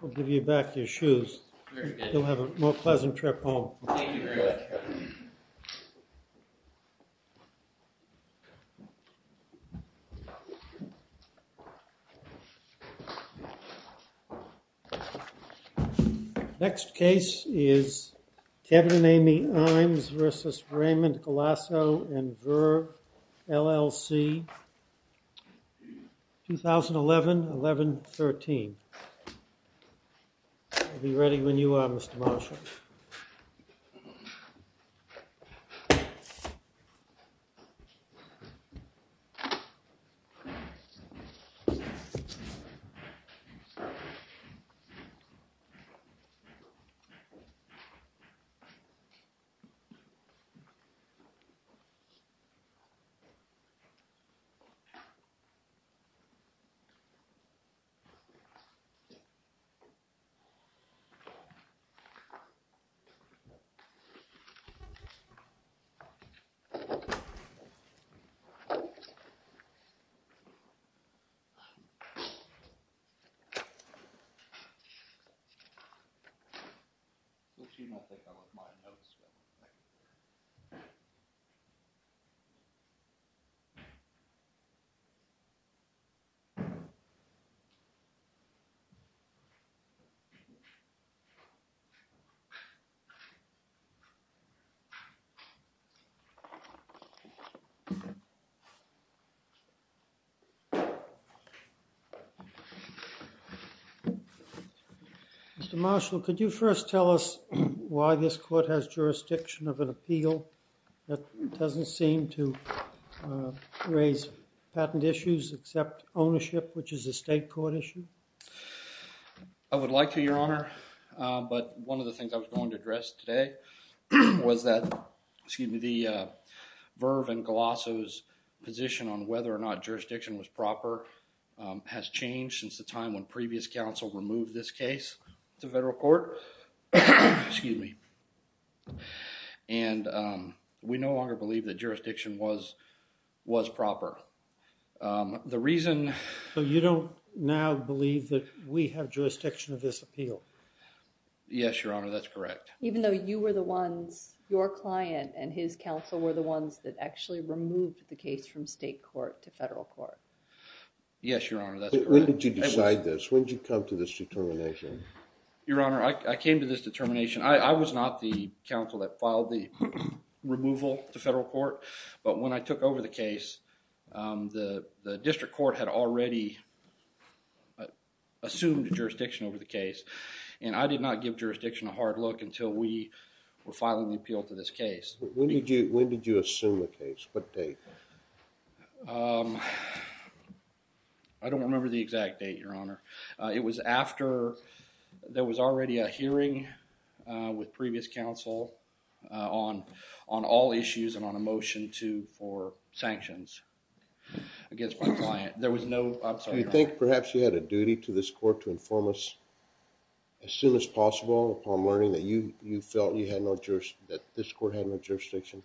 We'll give you back your shoes. You'll have a more pleasant trip home. Thank you very much, Kevin. Next case is Kevin and Amy Imes v. Raymond Galasso & Ver, LLC, 2011-11-13. I'll be ready when you are, Mr. Marshall. Thank you. You do not think I want my notes, do you? Mr. Marshall, could you first tell us why this court has jurisdiction of an appeal that doesn't seem to raise patent issues except ownership, which is a state court issue? I would like to, Your Honor, but one of the things I was going to address today was that, excuse me, the Ver and Galasso's position on whether or not jurisdiction was proper has changed since the time when previous counsel removed this case to federal court. Excuse me. And we no longer believe that jurisdiction was proper. The reason… So you don't now believe that we have jurisdiction of this appeal? Yes, Your Honor, that's correct. Even though you were the ones, your client and his counsel were the ones that actually removed the case from state court to federal court? Yes, Your Honor, that's correct. When did you decide this? When did you come to this determination? Your Honor, I, I came to this determination. I, I was not the counsel that filed the removal to federal court, but when I took over the case, um, the, the district court had already assumed jurisdiction over the case and I did not give jurisdiction a hard look until we were filing the appeal to this case. When did you, when did you assume the case? What date? Um, I don't remember the exact date, Your Honor. Uh, it was after there was already a hearing, uh, with previous counsel, uh, on, on all issues and on a motion to, for sanctions against my client. There was no, I'm sorry, Your Honor. Do you think perhaps you had a duty to this court to inform us as soon as possible upon learning that you, you felt you had no jurisdiction, that this court had no jurisdiction?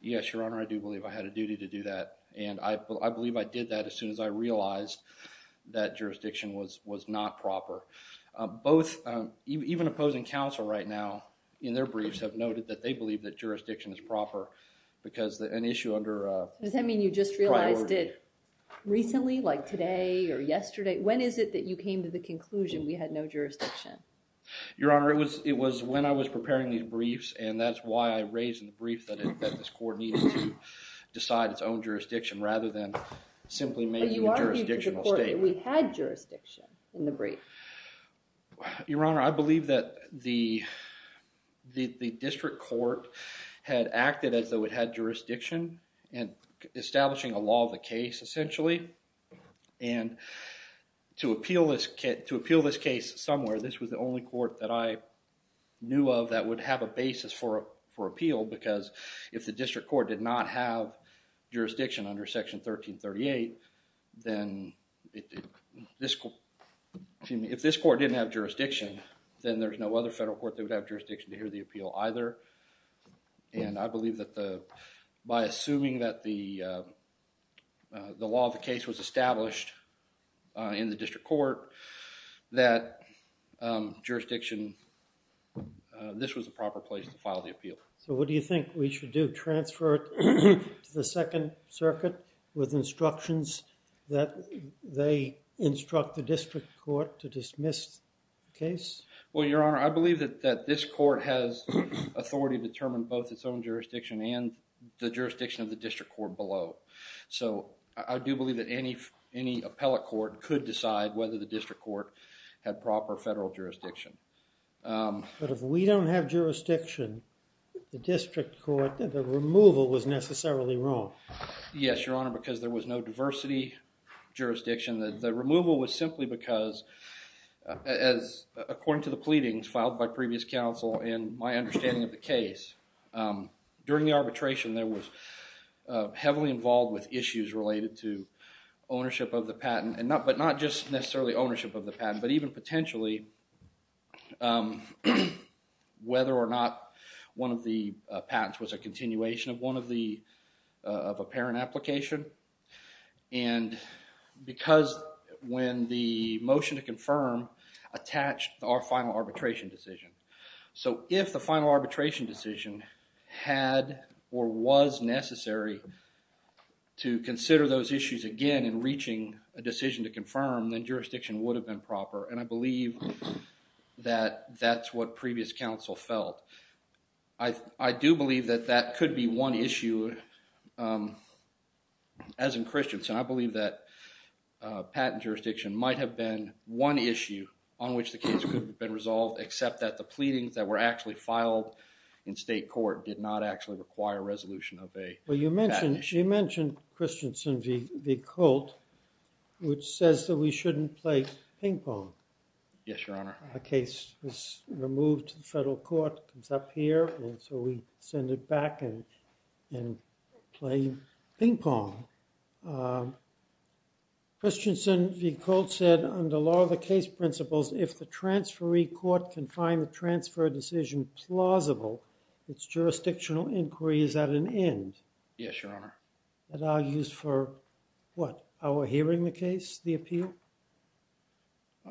Yes, Your Honor, I do believe I had a duty to do that and I, I believe I did that as soon as I realized that jurisdiction was, was not proper. Uh, both, um, even opposing counsel right now in their briefs have noted that they believe that jurisdiction is proper because the, an issue under, uh, priority. Does that mean you just realized it recently, like today or yesterday? When is it that you came to the conclusion we had no jurisdiction? Your Honor, it was, it was when I was preparing these briefs and that's why I raised in the brief that, that this court needed to decide its own jurisdiction rather than simply making a jurisdictional statement. But you argued to the court that we had jurisdiction in the brief. Your Honor, I believe that the, the, the district court had acted as though it had jurisdiction and establishing a law of the case essentially. And to appeal this case, to appeal this case somewhere, this was the only court that I knew of that would have a basis for, for appeal because if the district court did not have jurisdiction under Section 1338, then this, if this court didn't have jurisdiction, then there's no other federal court that would have jurisdiction to hear the appeal either. And I believe that the, by assuming that the, uh, the law of the case was established, uh, in the district court, that, um, jurisdiction, uh, this was the proper place to file the appeal. So what do you think we should do? Transfer it to the Second Circuit with instructions that they instruct the district court to dismiss the case? Well, Your Honor, I believe that, that this court has authority to determine both its own jurisdiction and the jurisdiction of the district court below. So, I do believe that any, any appellate court could decide whether the district court had proper federal jurisdiction. Um. But if we don't have jurisdiction, the district court, the removal was necessarily wrong. Yes, Your Honor, because there was no diversity jurisdiction, the, the removal was simply because, uh, as, according to the pleadings filed by previous counsel and my understanding of the case, um, during the arbitration, there was, uh, heavily involved with issues related to ownership of the patent and not, but not just necessarily ownership of the patent, but even potentially, um, whether or not one of the, uh, patents was a continuation of one of the, uh, of a parent application. And because when the motion to confirm attached our final arbitration decision. So, if the final arbitration decision had or was necessary to consider those issues again in reaching a decision to confirm, then jurisdiction would have been proper. And I believe that that's what previous counsel felt. I, I do believe that that could be one issue, um. As in Christensen, I believe that, uh, patent jurisdiction might have been one issue on which the case could have been resolved, except that the pleadings that were actually filed in state court did not actually require resolution of a patent issue. Well, you mentioned, you mentioned Christensen v. Colt, which says that we shouldn't play ping pong. Yes, Your Honor. The case was removed to the federal court, comes up here, and so we send it back and, and play ping pong. Um, Christensen v. Colt said, under law of the case principles, if the transferee court can find the transfer decision plausible, its jurisdictional inquiry is at an end. Yes, Your Honor. That argues for, what, our hearing the case, the appeal?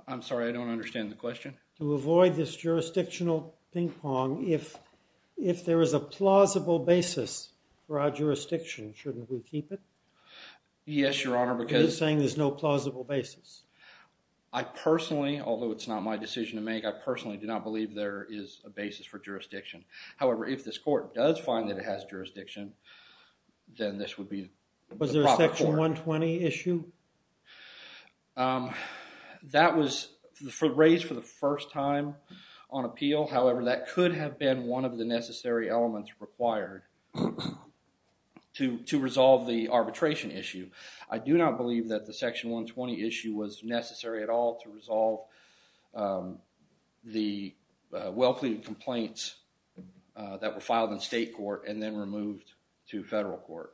I'm sorry, I don't understand the question. To avoid this jurisdictional ping pong, if, if there is a plausible basis for our jurisdiction, shouldn't we keep it? Yes, Your Honor, because. You're saying there's no plausible basis. I personally, although it's not my decision to make, I personally do not believe there is a basis for jurisdiction. However, if this court does find that it has jurisdiction, then this would be the proper court. Was there a section 120 issue? Um, that was raised for the first time on appeal. However, that could have been one of the necessary elements required to, to resolve the arbitration issue. I do not believe that the section 120 issue was necessary at all to resolve, um, the, uh, well pleaded complaints, uh, that were filed in state court and then removed to federal court.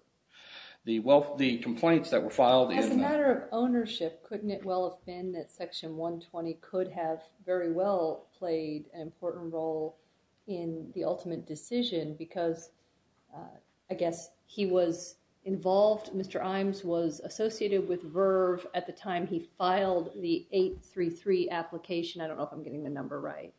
The well, the complaints that were filed. As a matter of ownership, couldn't it well have been that section 120 could have very well played an important role in the ultimate decision? Because, uh, I guess he was involved. Mr. Imes was associated with Verve at the time he filed the 833 application. I don't know if I'm getting the number right.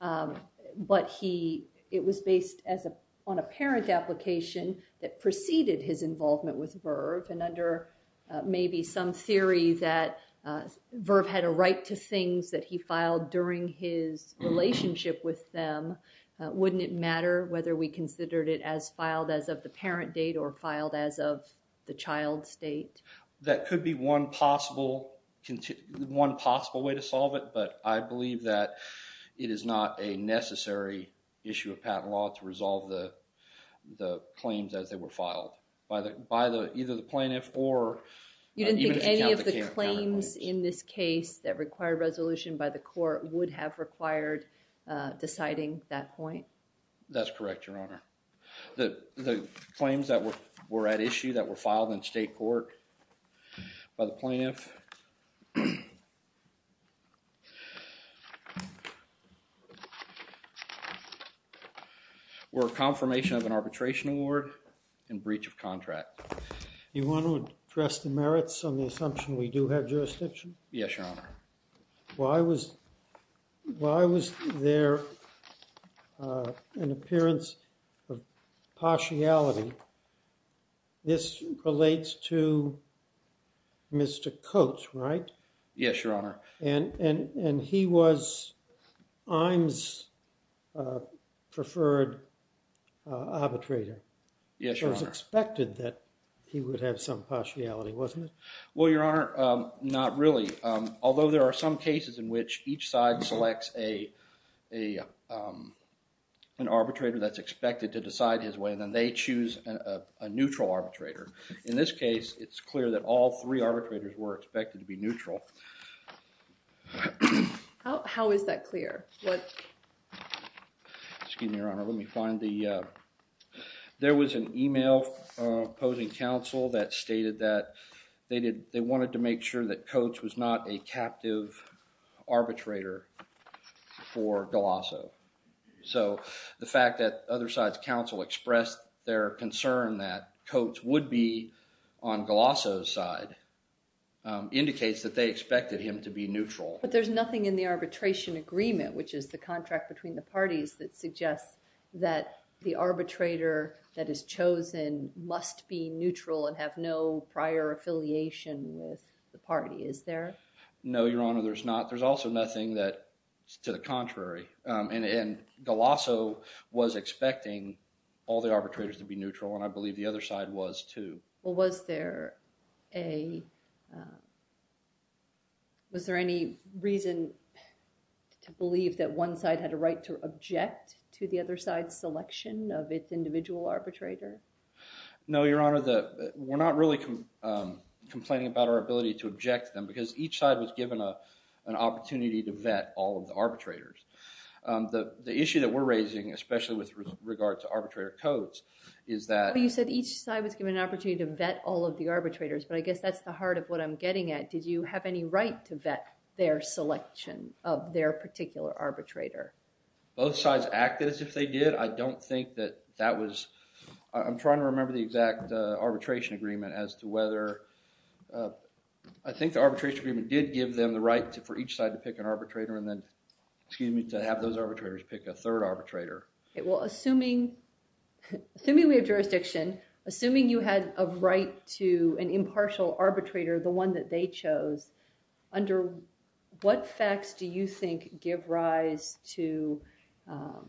Um, but he, it was based as a, on a parent application that preceded his involvement with Verve. And under, uh, maybe some theory that, uh, Verve had a right to things that he filed during his relationship with them. Uh, wouldn't it matter whether we considered it as filed as of the parent date or filed as of the child's date? That could be one possible, one possible way to solve it. But I believe that it is not a necessary issue of patent law to resolve the, the claims as they were filed by the, by the, either the plaintiff or. You didn't think any of the claims in this case that required resolution by the court would have required, uh, deciding that point? That's correct, Your Honor. The, the claims that were, were at issue that were filed in state court by the plaintiff were confirmation of an arbitration award and breach of contract. You want to address the merits on the assumption we do have jurisdiction? Yes, Your Honor. Why was, why was there, uh, an appearance of partiality? This relates to Mr. Coates, right? Yes, Your Honor. And, and, and he was Iams' preferred arbitrator. Yes, Your Honor. It was expected that he would have some partiality, wasn't it? Well, Your Honor, um, not really. Um, although there are some cases in which each side selects a, a, um, an arbitrator that's expected to decide his way and then they choose a, a, a neutral arbitrator. In this case, it's clear that all three arbitrators were expected to be neutral. How, how is that clear? What? Excuse me, Your Honor. Let me find the, uh, there was an email, uh, opposing counsel that stated that they did, they wanted to make sure that Coates was not a captive arbitrator for Galasso. So, the fact that other side's counsel expressed their concern that Coates would be on Galasso's side, um, indicates that they expected him to be neutral. But there's nothing in the arbitration agreement, which is the contract between the parties, that suggests that the arbitrator that is chosen must be neutral and have no prior affiliation with the party, is there? No, Your Honor, there's not. There's also nothing that's to the contrary. Um, and, and Galasso was expecting all the arbitrators to be neutral and I believe the other side was too. Well, was there a, um, was there any reason to believe that one side had a right to object to the other side's selection of its individual arbitrator? No, Your Honor, the, we're not really, um, complaining about our ability to object to them because each side was given a, an opportunity to vet all of the arbitrators. Um, the, the issue that we're raising, especially with regard to arbitrator Coates, is that… But I guess that's the heart of what I'm getting at. Did you have any right to vet their selection of their particular arbitrator? Both sides acted as if they did. I don't think that that was, I'm trying to remember the exact, uh, arbitration agreement as to whether, uh, I think the arbitration agreement did give them the right for each side to pick an arbitrator and then, excuse me, to have those arbitrators pick a third arbitrator. Well, assuming, assuming we have jurisdiction, assuming you had a right to an impartial arbitrator, the one that they chose, under what facts do you think give rise to, um,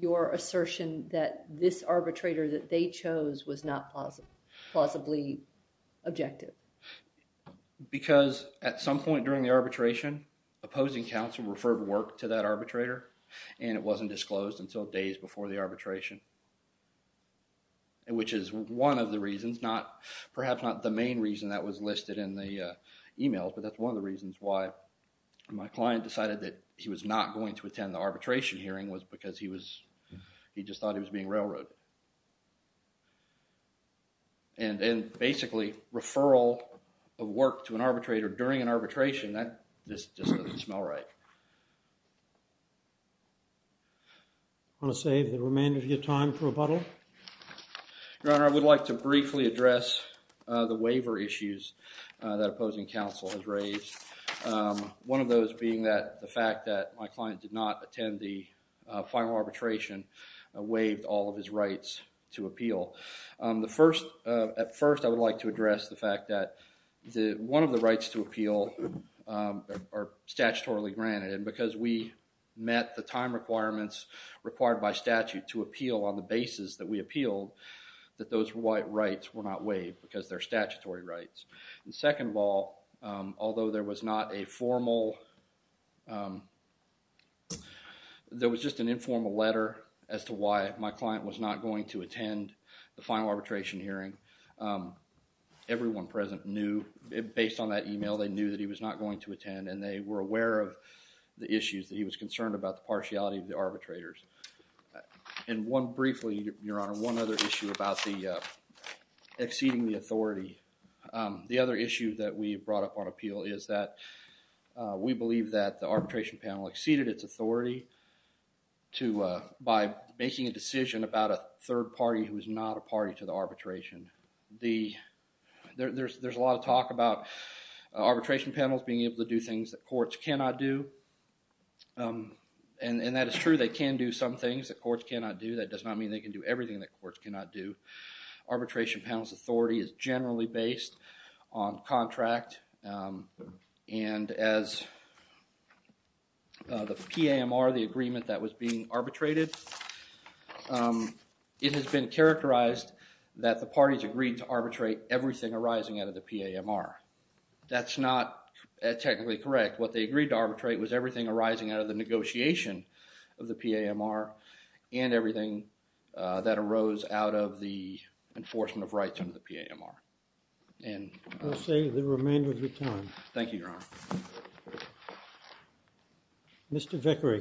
your assertion that this arbitrator that they chose was not plausibly objective? Because at some point during the arbitration, opposing counsel referred work to that arbitrator and it wasn't disclosed until days before the arbitration, which is one of the reasons, not, perhaps not the main reason that was listed in the, uh, email, but that's one of the reasons why my client decided that he was not going to attend the arbitration hearing was because he was, he just thought he was being railroaded. And then, basically, referral of work to an arbitrator during an arbitration, that, this just doesn't smell right. Want to save the remainder of your time for rebuttal? Your Honor, I would like to briefly address, uh, the waiver issues, uh, that opposing counsel has raised. Um, one of those being that the fact that my client did not attend the, uh, final arbitration waived all of his rights to appeal. Um, the first, uh, at first I would like to address the fact that the, one of the rights to appeal, um, are statutorily granted and because we met the time requirements required by statute to appeal on the basis that we appealed, that those rights were not waived because they're statutory rights. The second of all, um, although there was not a formal, um, there was just an informal letter as to why my client was not going to attend the final arbitration hearing. Um, everyone present knew, based on that email, they knew that he was not going to attend and they were aware of the issues that he was concerned about, the partiality of the arbitrators. And one briefly, Your Honor, one other issue about the, uh, exceeding the authority. Um, the other issue that we brought up on appeal is that, uh, we believe that the arbitration panel exceeded its authority to, uh, by making a decision about a third party who is not a party to the arbitration. The, there's a lot of talk about arbitration panels being able to do things that courts cannot do. Um, and that is true. They can do some things that courts cannot do. That does not mean they can do everything that courts cannot do. Arbitration panel's authority is generally based on contract, um, and as, uh, the PAMR, the agreement that was being arbitrated. Um, it has been characterized that the parties agreed to arbitrate everything arising out of the PAMR. That's not technically correct. What they agreed to arbitrate was everything arising out of the negotiation of the PAMR and everything, uh, that arose out of the enforcement of rights under the PAMR. And I'll say the remainder of your time. Thank you, Your Honor. Mr. Vickery.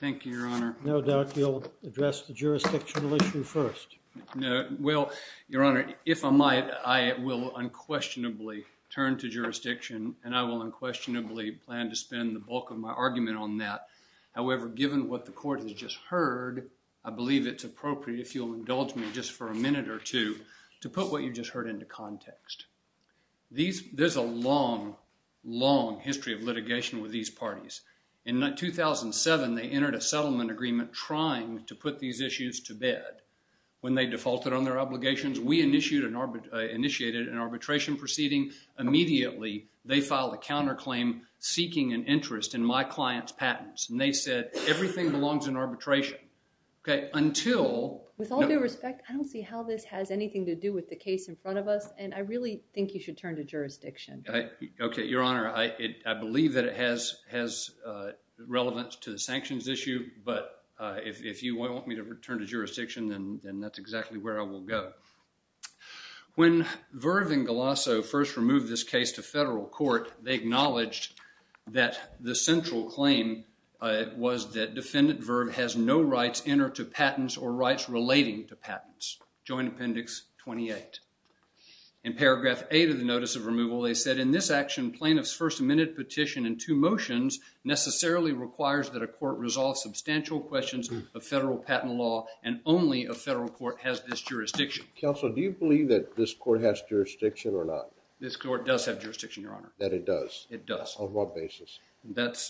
Thank you, Your Honor. No doubt you'll address the jurisdictional issue first. No, well, Your Honor, if I might, I will unquestionably turn to jurisdiction and I will unquestionably plan to spend the bulk of my argument on that. However, given what the court has just heard, I believe it's appropriate, if you'll indulge me just for a minute or two, to put what you just heard into context. These, there's a long, long history of litigation with these parties. In 2007, they entered a settlement agreement trying to put these issues to bed. When they defaulted on their obligations, we initiated an arbitration proceeding. Immediately, they filed a counterclaim seeking an interest in my client's patents. And they said, everything belongs in arbitration. With all due respect, I don't see how this has anything to do with the case in front of us, and I really think you should turn to jurisdiction. Okay, Your Honor, I believe that it has relevance to the sanctions issue, but if you want me to return to jurisdiction, then that's exactly where I will go. When Verve and Galasso first removed this case to federal court, they acknowledged that the central claim was that defendant Verve has no rights in or to patents or rights relating to patents. Joint Appendix 28. In Paragraph 8 of the Notice of Removal, they said, Counsel, do you believe that this court has jurisdiction or not? This court does have jurisdiction, Your Honor. That it does? It does. On what basis?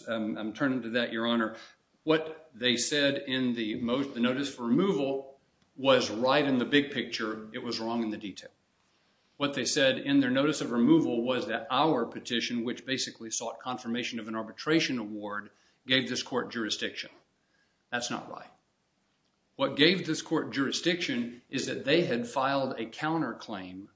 I'm turning to that, Your Honor. What they said in the Notice of Removal was right in the big picture. It was wrong in the detail. What they said in their Notice of Removal was that our petition, which basically sought confirmation of an arbitration award, gave this court jurisdiction. That's not right. What gave this court jurisdiction is that they had filed a counterclaim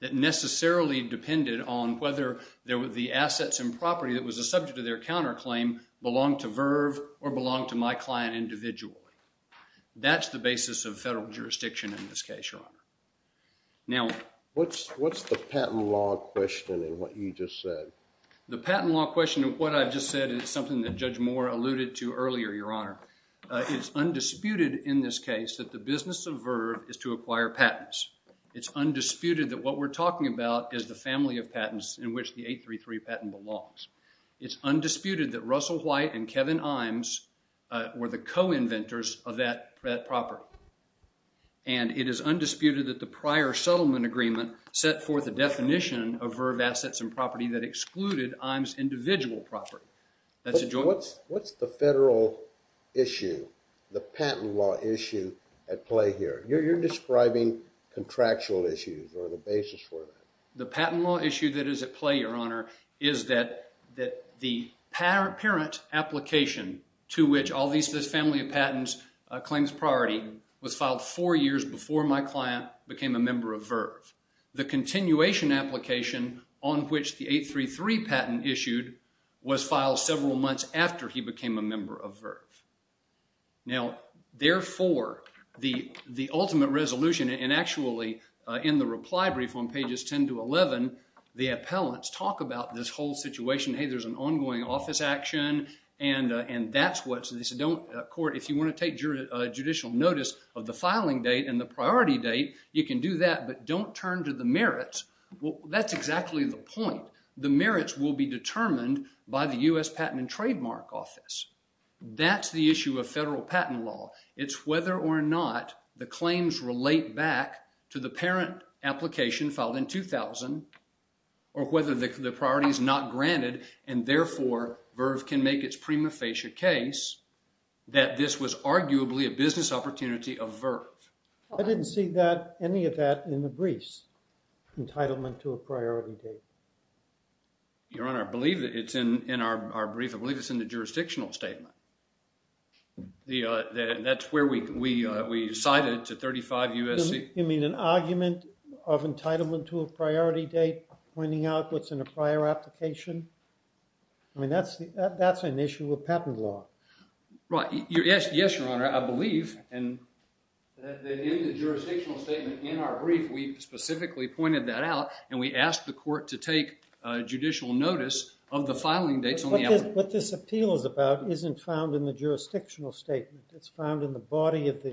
that necessarily depended on whether the assets and property that was the subject of their counterclaim belonged to Verve or belonged to my client individually. That's the basis of federal jurisdiction in this case, Your Honor. What's the patent law question in what you just said? The patent law question in what I just said is something that Judge Moore alluded to earlier, Your Honor. It's undisputed in this case that the business of Verve is to acquire patents. It's undisputed that what we're talking about is the family of patents in which the 833 patent belongs. It's undisputed that Russell White and Kevin Imes were the co-inventors of that property. And it is undisputed that the prior settlement agreement set forth a definition of Verve assets and property that excluded Imes' individual property. What's the federal issue, the patent law issue, at play here? You're describing contractual issues or the basis for that. The patent law issue that is at play, Your Honor, is that the parent application to which all these family of patents claims priority was filed four years before my client became a member of Verve. The continuation application on which the 833 patent issued was filed several months after he became a member of Verve. Now, therefore, the ultimate resolution, and actually in the reply brief on pages 10 to 11, the appellants talk about this whole situation. Hey, there's an ongoing office action, and that's what this court, if you want to take judicial notice of the filing date and the priority date, you can do that. But don't turn to the merits. That's exactly the point. The merits will be determined by the U.S. Patent and Trademark Office. That's the issue of federal patent law. It's whether or not the claims relate back to the parent application filed in 2000, or whether the priority is not granted, and therefore, Verve can make its prima facie case, that this was arguably a business opportunity of Verve. I didn't see any of that in the briefs, entitlement to a priority date. Your Honor, I believe it's in our brief. I believe it's in the jurisdictional statement. That's where we cited to 35 U.S.C. You mean an argument of entitlement to a priority date pointing out what's in a prior application? I mean, that's an issue of patent law. Right. Yes, Your Honor. I believe that in the jurisdictional statement in our brief, we specifically pointed that out, and we asked the court to take judicial notice of the filing dates on the application. What this appeal is about isn't found in the jurisdictional statement. It's found in the body of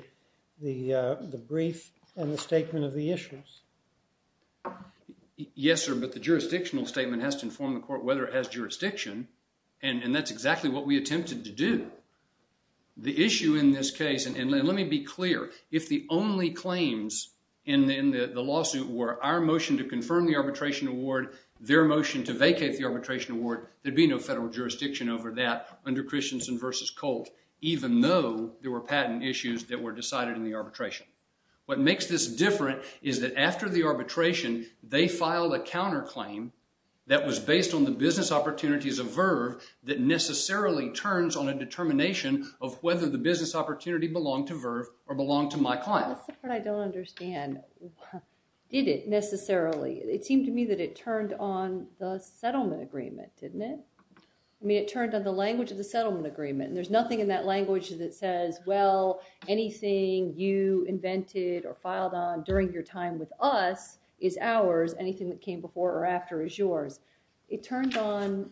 the brief and the statement of the issues. Yes, sir, but the jurisdictional statement has to inform the court whether it has jurisdiction, and that's exactly what we attempted to do. The issue in this case, and let me be clear, if the only claims in the lawsuit were our motion to confirm the arbitration award, their motion to vacate the arbitration award, there'd be no federal jurisdiction over that under Christensen v. Colt, even though there were patent issues that were decided in the arbitration. What makes this different is that after the arbitration, they filed a counterclaim that was based on the business opportunities of Verve that necessarily turns on a determination of whether the business opportunity belonged to Verve or belonged to my client. That's the part I don't understand. Did it necessarily? It seemed to me that it turned on the settlement agreement, didn't it? I mean, it turned on the language of the settlement agreement, and there's nothing in that language that says, well, anything you invented or filed on during your time with us is ours. Anything that came before or after is yours. It turned on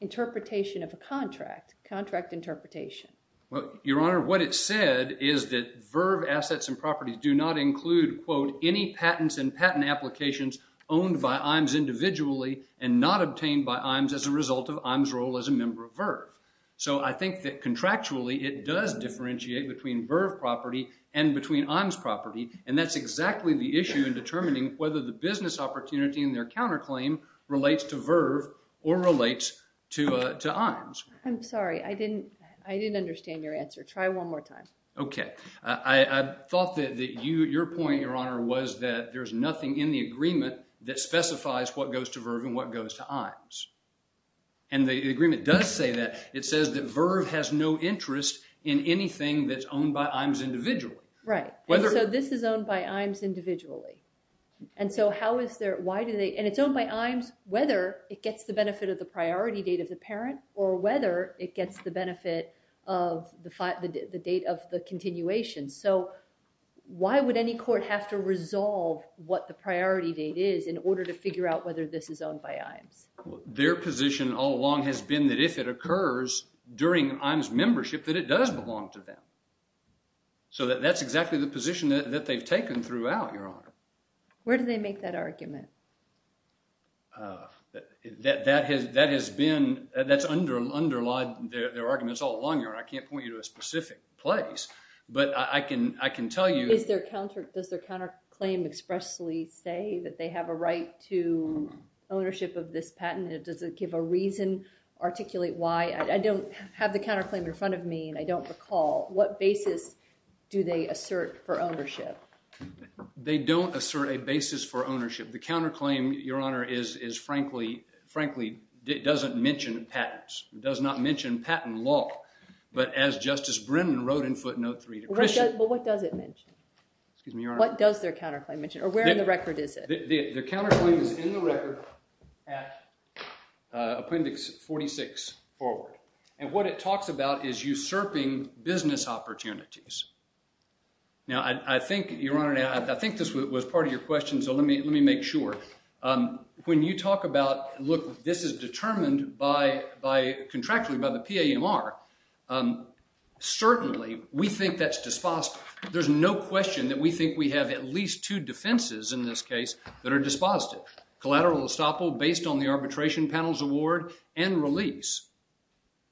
interpretation of a contract, contract interpretation. Well, Your Honor, what it said is that Verve assets and properties do not include, quote, any patents and patent applications owned by Iams individually and not obtained by Iams as a result of Iams' role as a member of Verve. So I think that contractually, it does differentiate between Verve property and between Iams' property, and that's exactly the issue in determining whether the business opportunity in their counterclaim relates to Verve or relates to Iams. I'm sorry. I didn't understand your answer. Try one more time. Okay. I thought that your point, Your Honor, was that there's nothing in the agreement that specifies what goes to Verve and what goes to Iams. And the agreement does say that. It says that Verve has no interest in anything that's owned by Iams individually. Right. So this is owned by Iams individually. And so how is there – why do they – and it's owned by Iams whether it gets the benefit of the priority date of the parent or whether it gets the benefit of the date of the continuation. So why would any court have to resolve what the priority date is in order to figure out whether this is owned by Iams? Their position all along has been that if it occurs during Iams' membership, that it does belong to them. So that's exactly the position that they've taken throughout, Your Honor. Where do they make that argument? That has been – that's underlied their arguments all along, Your Honor. I can't point you to a specific place, but I can tell you – Does their counterclaim expressly say that they have a right to ownership of this patent? Does it give a reason, articulate why? I don't have the counterclaim in front of me and I don't recall. What basis do they assert for ownership? They don't assert a basis for ownership. The counterclaim, Your Honor, is frankly – frankly doesn't mention patents. It does not mention patent law. But as Justice Brennan wrote in footnote 3 to Christian – Well, what does it mention? Excuse me, Your Honor. What does their counterclaim mention? Or where in the record is it? Their counterclaim is in the record at Appendix 46 forward. And what it talks about is usurping business opportunities. Now, I think, Your Honor, I think this was part of your question, so let me make sure. When you talk about, look, this is determined by – contractually by the PAMR, certainly we think that's – there's no question that we think we have at least two defenses in this case that are dispositive. Collateral estoppel based on the arbitration panel's award and release.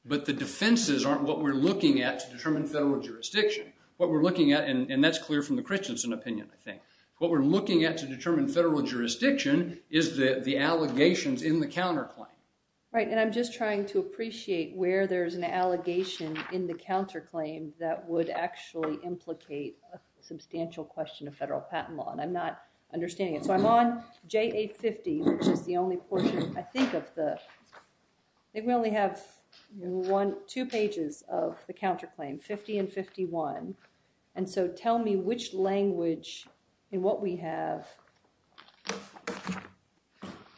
But the defenses aren't what we're looking at to determine federal jurisdiction. What we're looking at – and that's clear from the Christensen opinion, I think. What we're looking at to determine federal jurisdiction is the allegations in the counterclaim. Right, and I'm just trying to appreciate where there's an allegation in the counterclaim that would actually implicate a substantial question of federal patent law. And I'm not understanding it. So I'm on J850, which is the only portion, I think, of the – I think we only have two pages of the counterclaim, 50 and 51. And so tell me which language and what we have.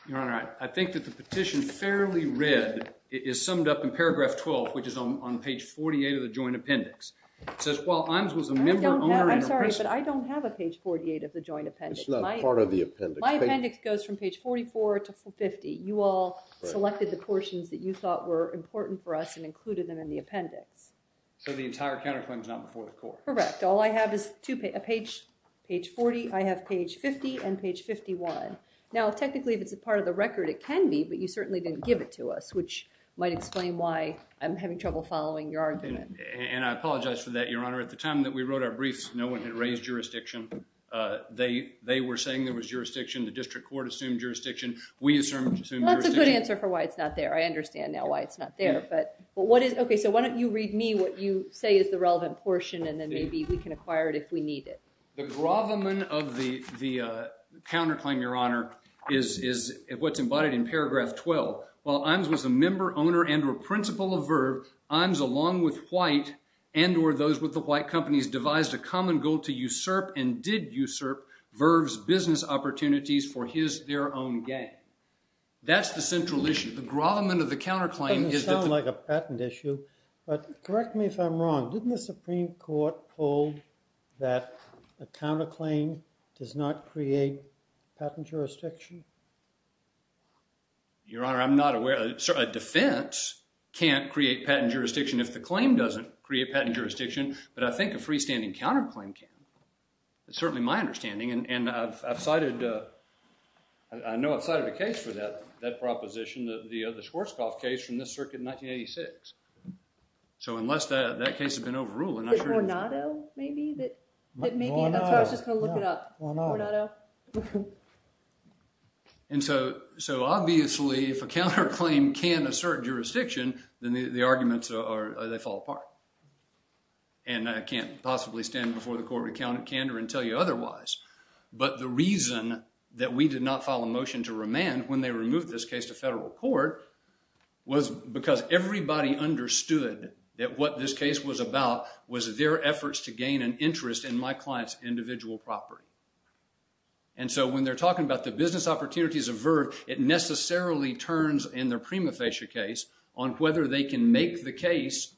Your Honor, I think that the petition fairly read is summed up in paragraph 12, which is on page 48 of the joint appendix. It says, while Imes was a member, owner, and a person – I don't have – I'm sorry, but I don't have a page 48 of the joint appendix. It's not part of the appendix. My appendix goes from page 44 to 50. You all selected the portions that you thought were important for us and included them in the appendix. So the entire counterclaim is not before the court. Correct. All I have is page 40. I have page 50 and page 51. Now, technically, if it's a part of the record, it can be, but you certainly didn't give it to us, which might explain why I'm having trouble following your argument. And I apologize for that, Your Honor. At the time that we wrote our briefs, no one had raised jurisdiction. They were saying there was jurisdiction. The district court assumed jurisdiction. We assumed jurisdiction. Well, that's a good answer for why it's not there. I understand now why it's not there. So why don't you read me what you say is the relevant portion, and then maybe we can acquire it if we need it. The grovelman of the counterclaim, Your Honor, is what's embodied in paragraph 12. While Imes was a member, owner, and or principal of Verve, Imes, along with White and or those with the White companies, devised a common goal to usurp and did usurp Verve's business opportunities for their own gain. That's the central issue. The grovelman of the counterclaim is that the- It doesn't sound like a patent issue, but correct me if I'm wrong. Didn't the Supreme Court hold that a counterclaim does not create patent jurisdiction? Your Honor, I'm not aware. A defense can't create patent jurisdiction if the claim doesn't create patent jurisdiction, but I think a freestanding counterclaim can. It's certainly my understanding, and I've cited- I know I've cited a case for that proposition, the Schwarzkopf case from this circuit in 1986. So unless that case has been overruled, I'm not sure- The Guarnado, maybe? That's why I was just going to look it up. The Guarnado. And so obviously, if a counterclaim can assert jurisdiction, then the arguments fall apart. And I can't possibly stand before the Court of Accounted Candor and tell you otherwise. But the reason that we did not file a motion to remand when they removed this case to federal court was because everybody understood that what this case was about was their efforts to gain an interest in my client's individual property. And so when they're talking about the business opportunities of Verve, it necessarily turns in their prima facie case on whether they can make the case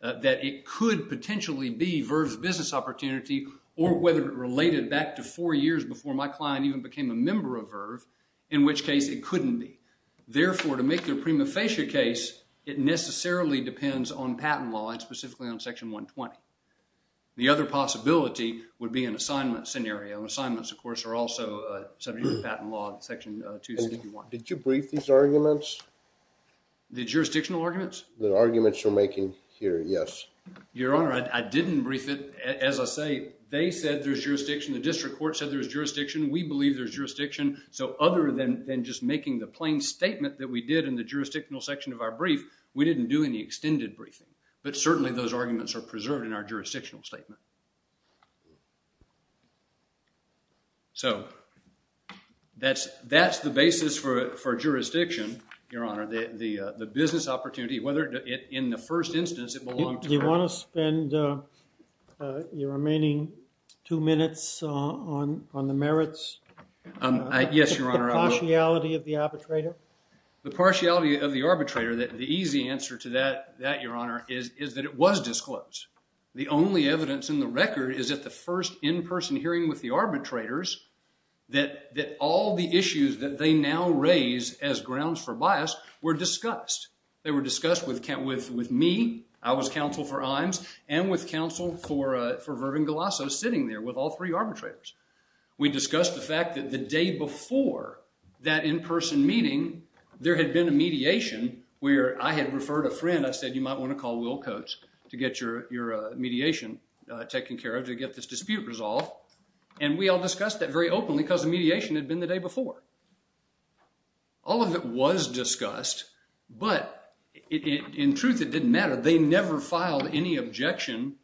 that it could potentially be Verve's business opportunity, or whether it related back to four years before my client even became a member of Verve, in which case it couldn't be. Therefore, to make their prima facie case, it necessarily depends on patent law, and specifically on Section 120. The other possibility would be an assignment scenario. Assignments, of course, are also subject to patent law in Section 261. Did you brief these arguments? The jurisdictional arguments? The arguments you're making here, yes. Your Honor, I didn't brief it. As I say, they said there's jurisdiction. The district court said there's jurisdiction. We believe there's jurisdiction. So other than just making the plain statement that we did in the jurisdictional section of our brief, we didn't do any extended briefing. But certainly those arguments are preserved in our jurisdictional statement. So that's the basis for jurisdiction, Your Honor. The business opportunity, whether in the first instance it belonged to Verve. Do you want to spend your remaining two minutes on the merits? Yes, Your Honor. The partiality of the arbitrator? The partiality of the arbitrator, the easy answer to that, Your Honor, is that it was disclosed. The only evidence in the record is at the first in-person hearing with the arbitrators that all the issues that they now raise as grounds for bias were discussed. They were discussed with me, I was counsel for Imes, and with counsel for Verve and Galasso sitting there with all three arbitrators. We discussed the fact that the day before that in-person meeting, there had been a mediation where I had referred a friend. I said you might want to call Will Coates to get your mediation taken care of, to get this dispute resolved. And we all discussed that very openly because the mediation had been the day before. All of it was discussed, but in truth it didn't matter. They never filed any objection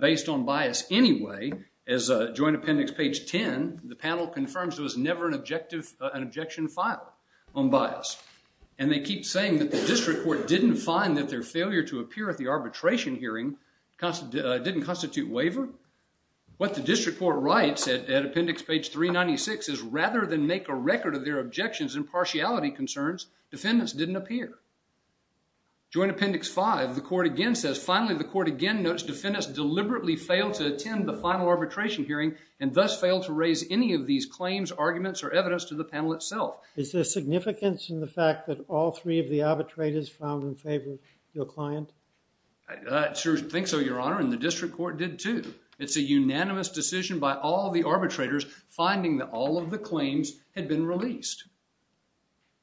based on bias anyway. As joint appendix page 10, the panel confirms there was never an objection filed on bias. And they keep saying that the district court didn't find that their failure to appear at the arbitration hearing didn't constitute waiver. What the district court writes at appendix page 396 is rather than make a record of their objections and partiality concerns, defendants didn't appear. Joint appendix 5, the court again says, finally the court again notes defendants deliberately failed to attend the final arbitration hearing and thus failed to raise any of these claims, arguments, or evidence to the panel itself. Is there significance in the fact that all three of the arbitrators found in favor of your client? I think so, Your Honor, and the district court did too. It's a unanimous decision by all the arbitrators finding that all of the claims had been released.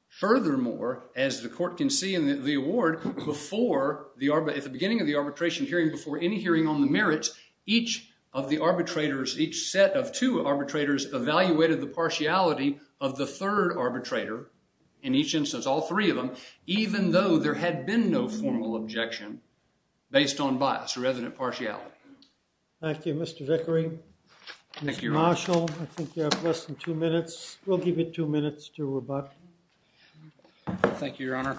Furthermore, as the court can see in the award, at the beginning of the arbitration hearing before any hearing on the merits, each of the arbitrators, each set of two arbitrators, evaluated the partiality of the third arbitrator, in each instance all three of them, even though there had been no formal objection based on bias or evident partiality. Thank you, Mr. Vickery. Thank you, Your Honor. Mr. Marshall, I think you have less than two minutes. We'll give you two minutes to rebut. Thank you, Your Honor.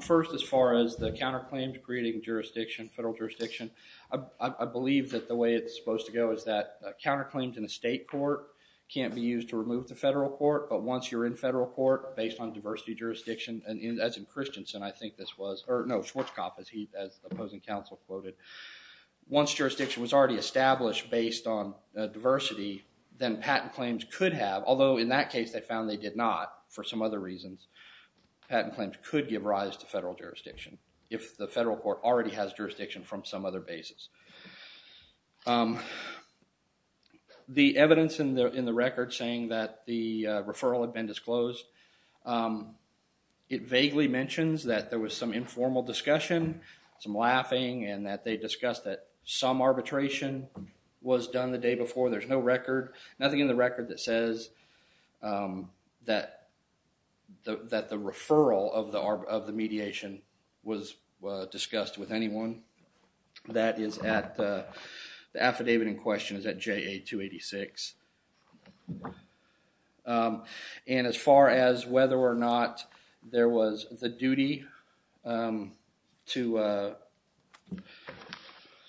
First, as far as the counterclaim to creating jurisdiction, federal jurisdiction, I believe that the way it's supposed to go is that counterclaims in a state court can't be used to remove the federal court, but once you're in federal court, based on diversity jurisdiction, as in Christensen, I think this was, or no, Schwarzkopf, as the opposing counsel quoted, once jurisdiction was already established based on diversity, then patent claims could have, although in that case they found they did not for some other reasons, patent claims could give rise to federal jurisdiction if the federal court already has jurisdiction from some other basis. The evidence in the record saying that the referral had been disclosed, it vaguely mentions that there was some informal discussion, some laughing, and that they discussed that some arbitration was done the day before. There's no record, nothing in the record that says that the referral of the mediation was discussed with anyone. That is at, the affidavit in question is at JA-286. And as far as whether or not there was the duty to,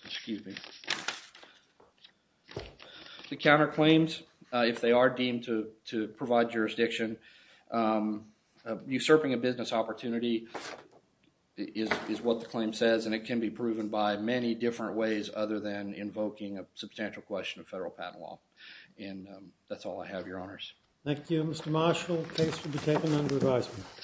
excuse me, the counterclaims, if they are deemed to provide jurisdiction, usurping a business opportunity is what the claim says, and it can be proven by many different ways other than invoking a substantial question of federal patent law. And that's all I have, Your Honors. Thank you, Mr. Marshall. Case will be taken under advisement.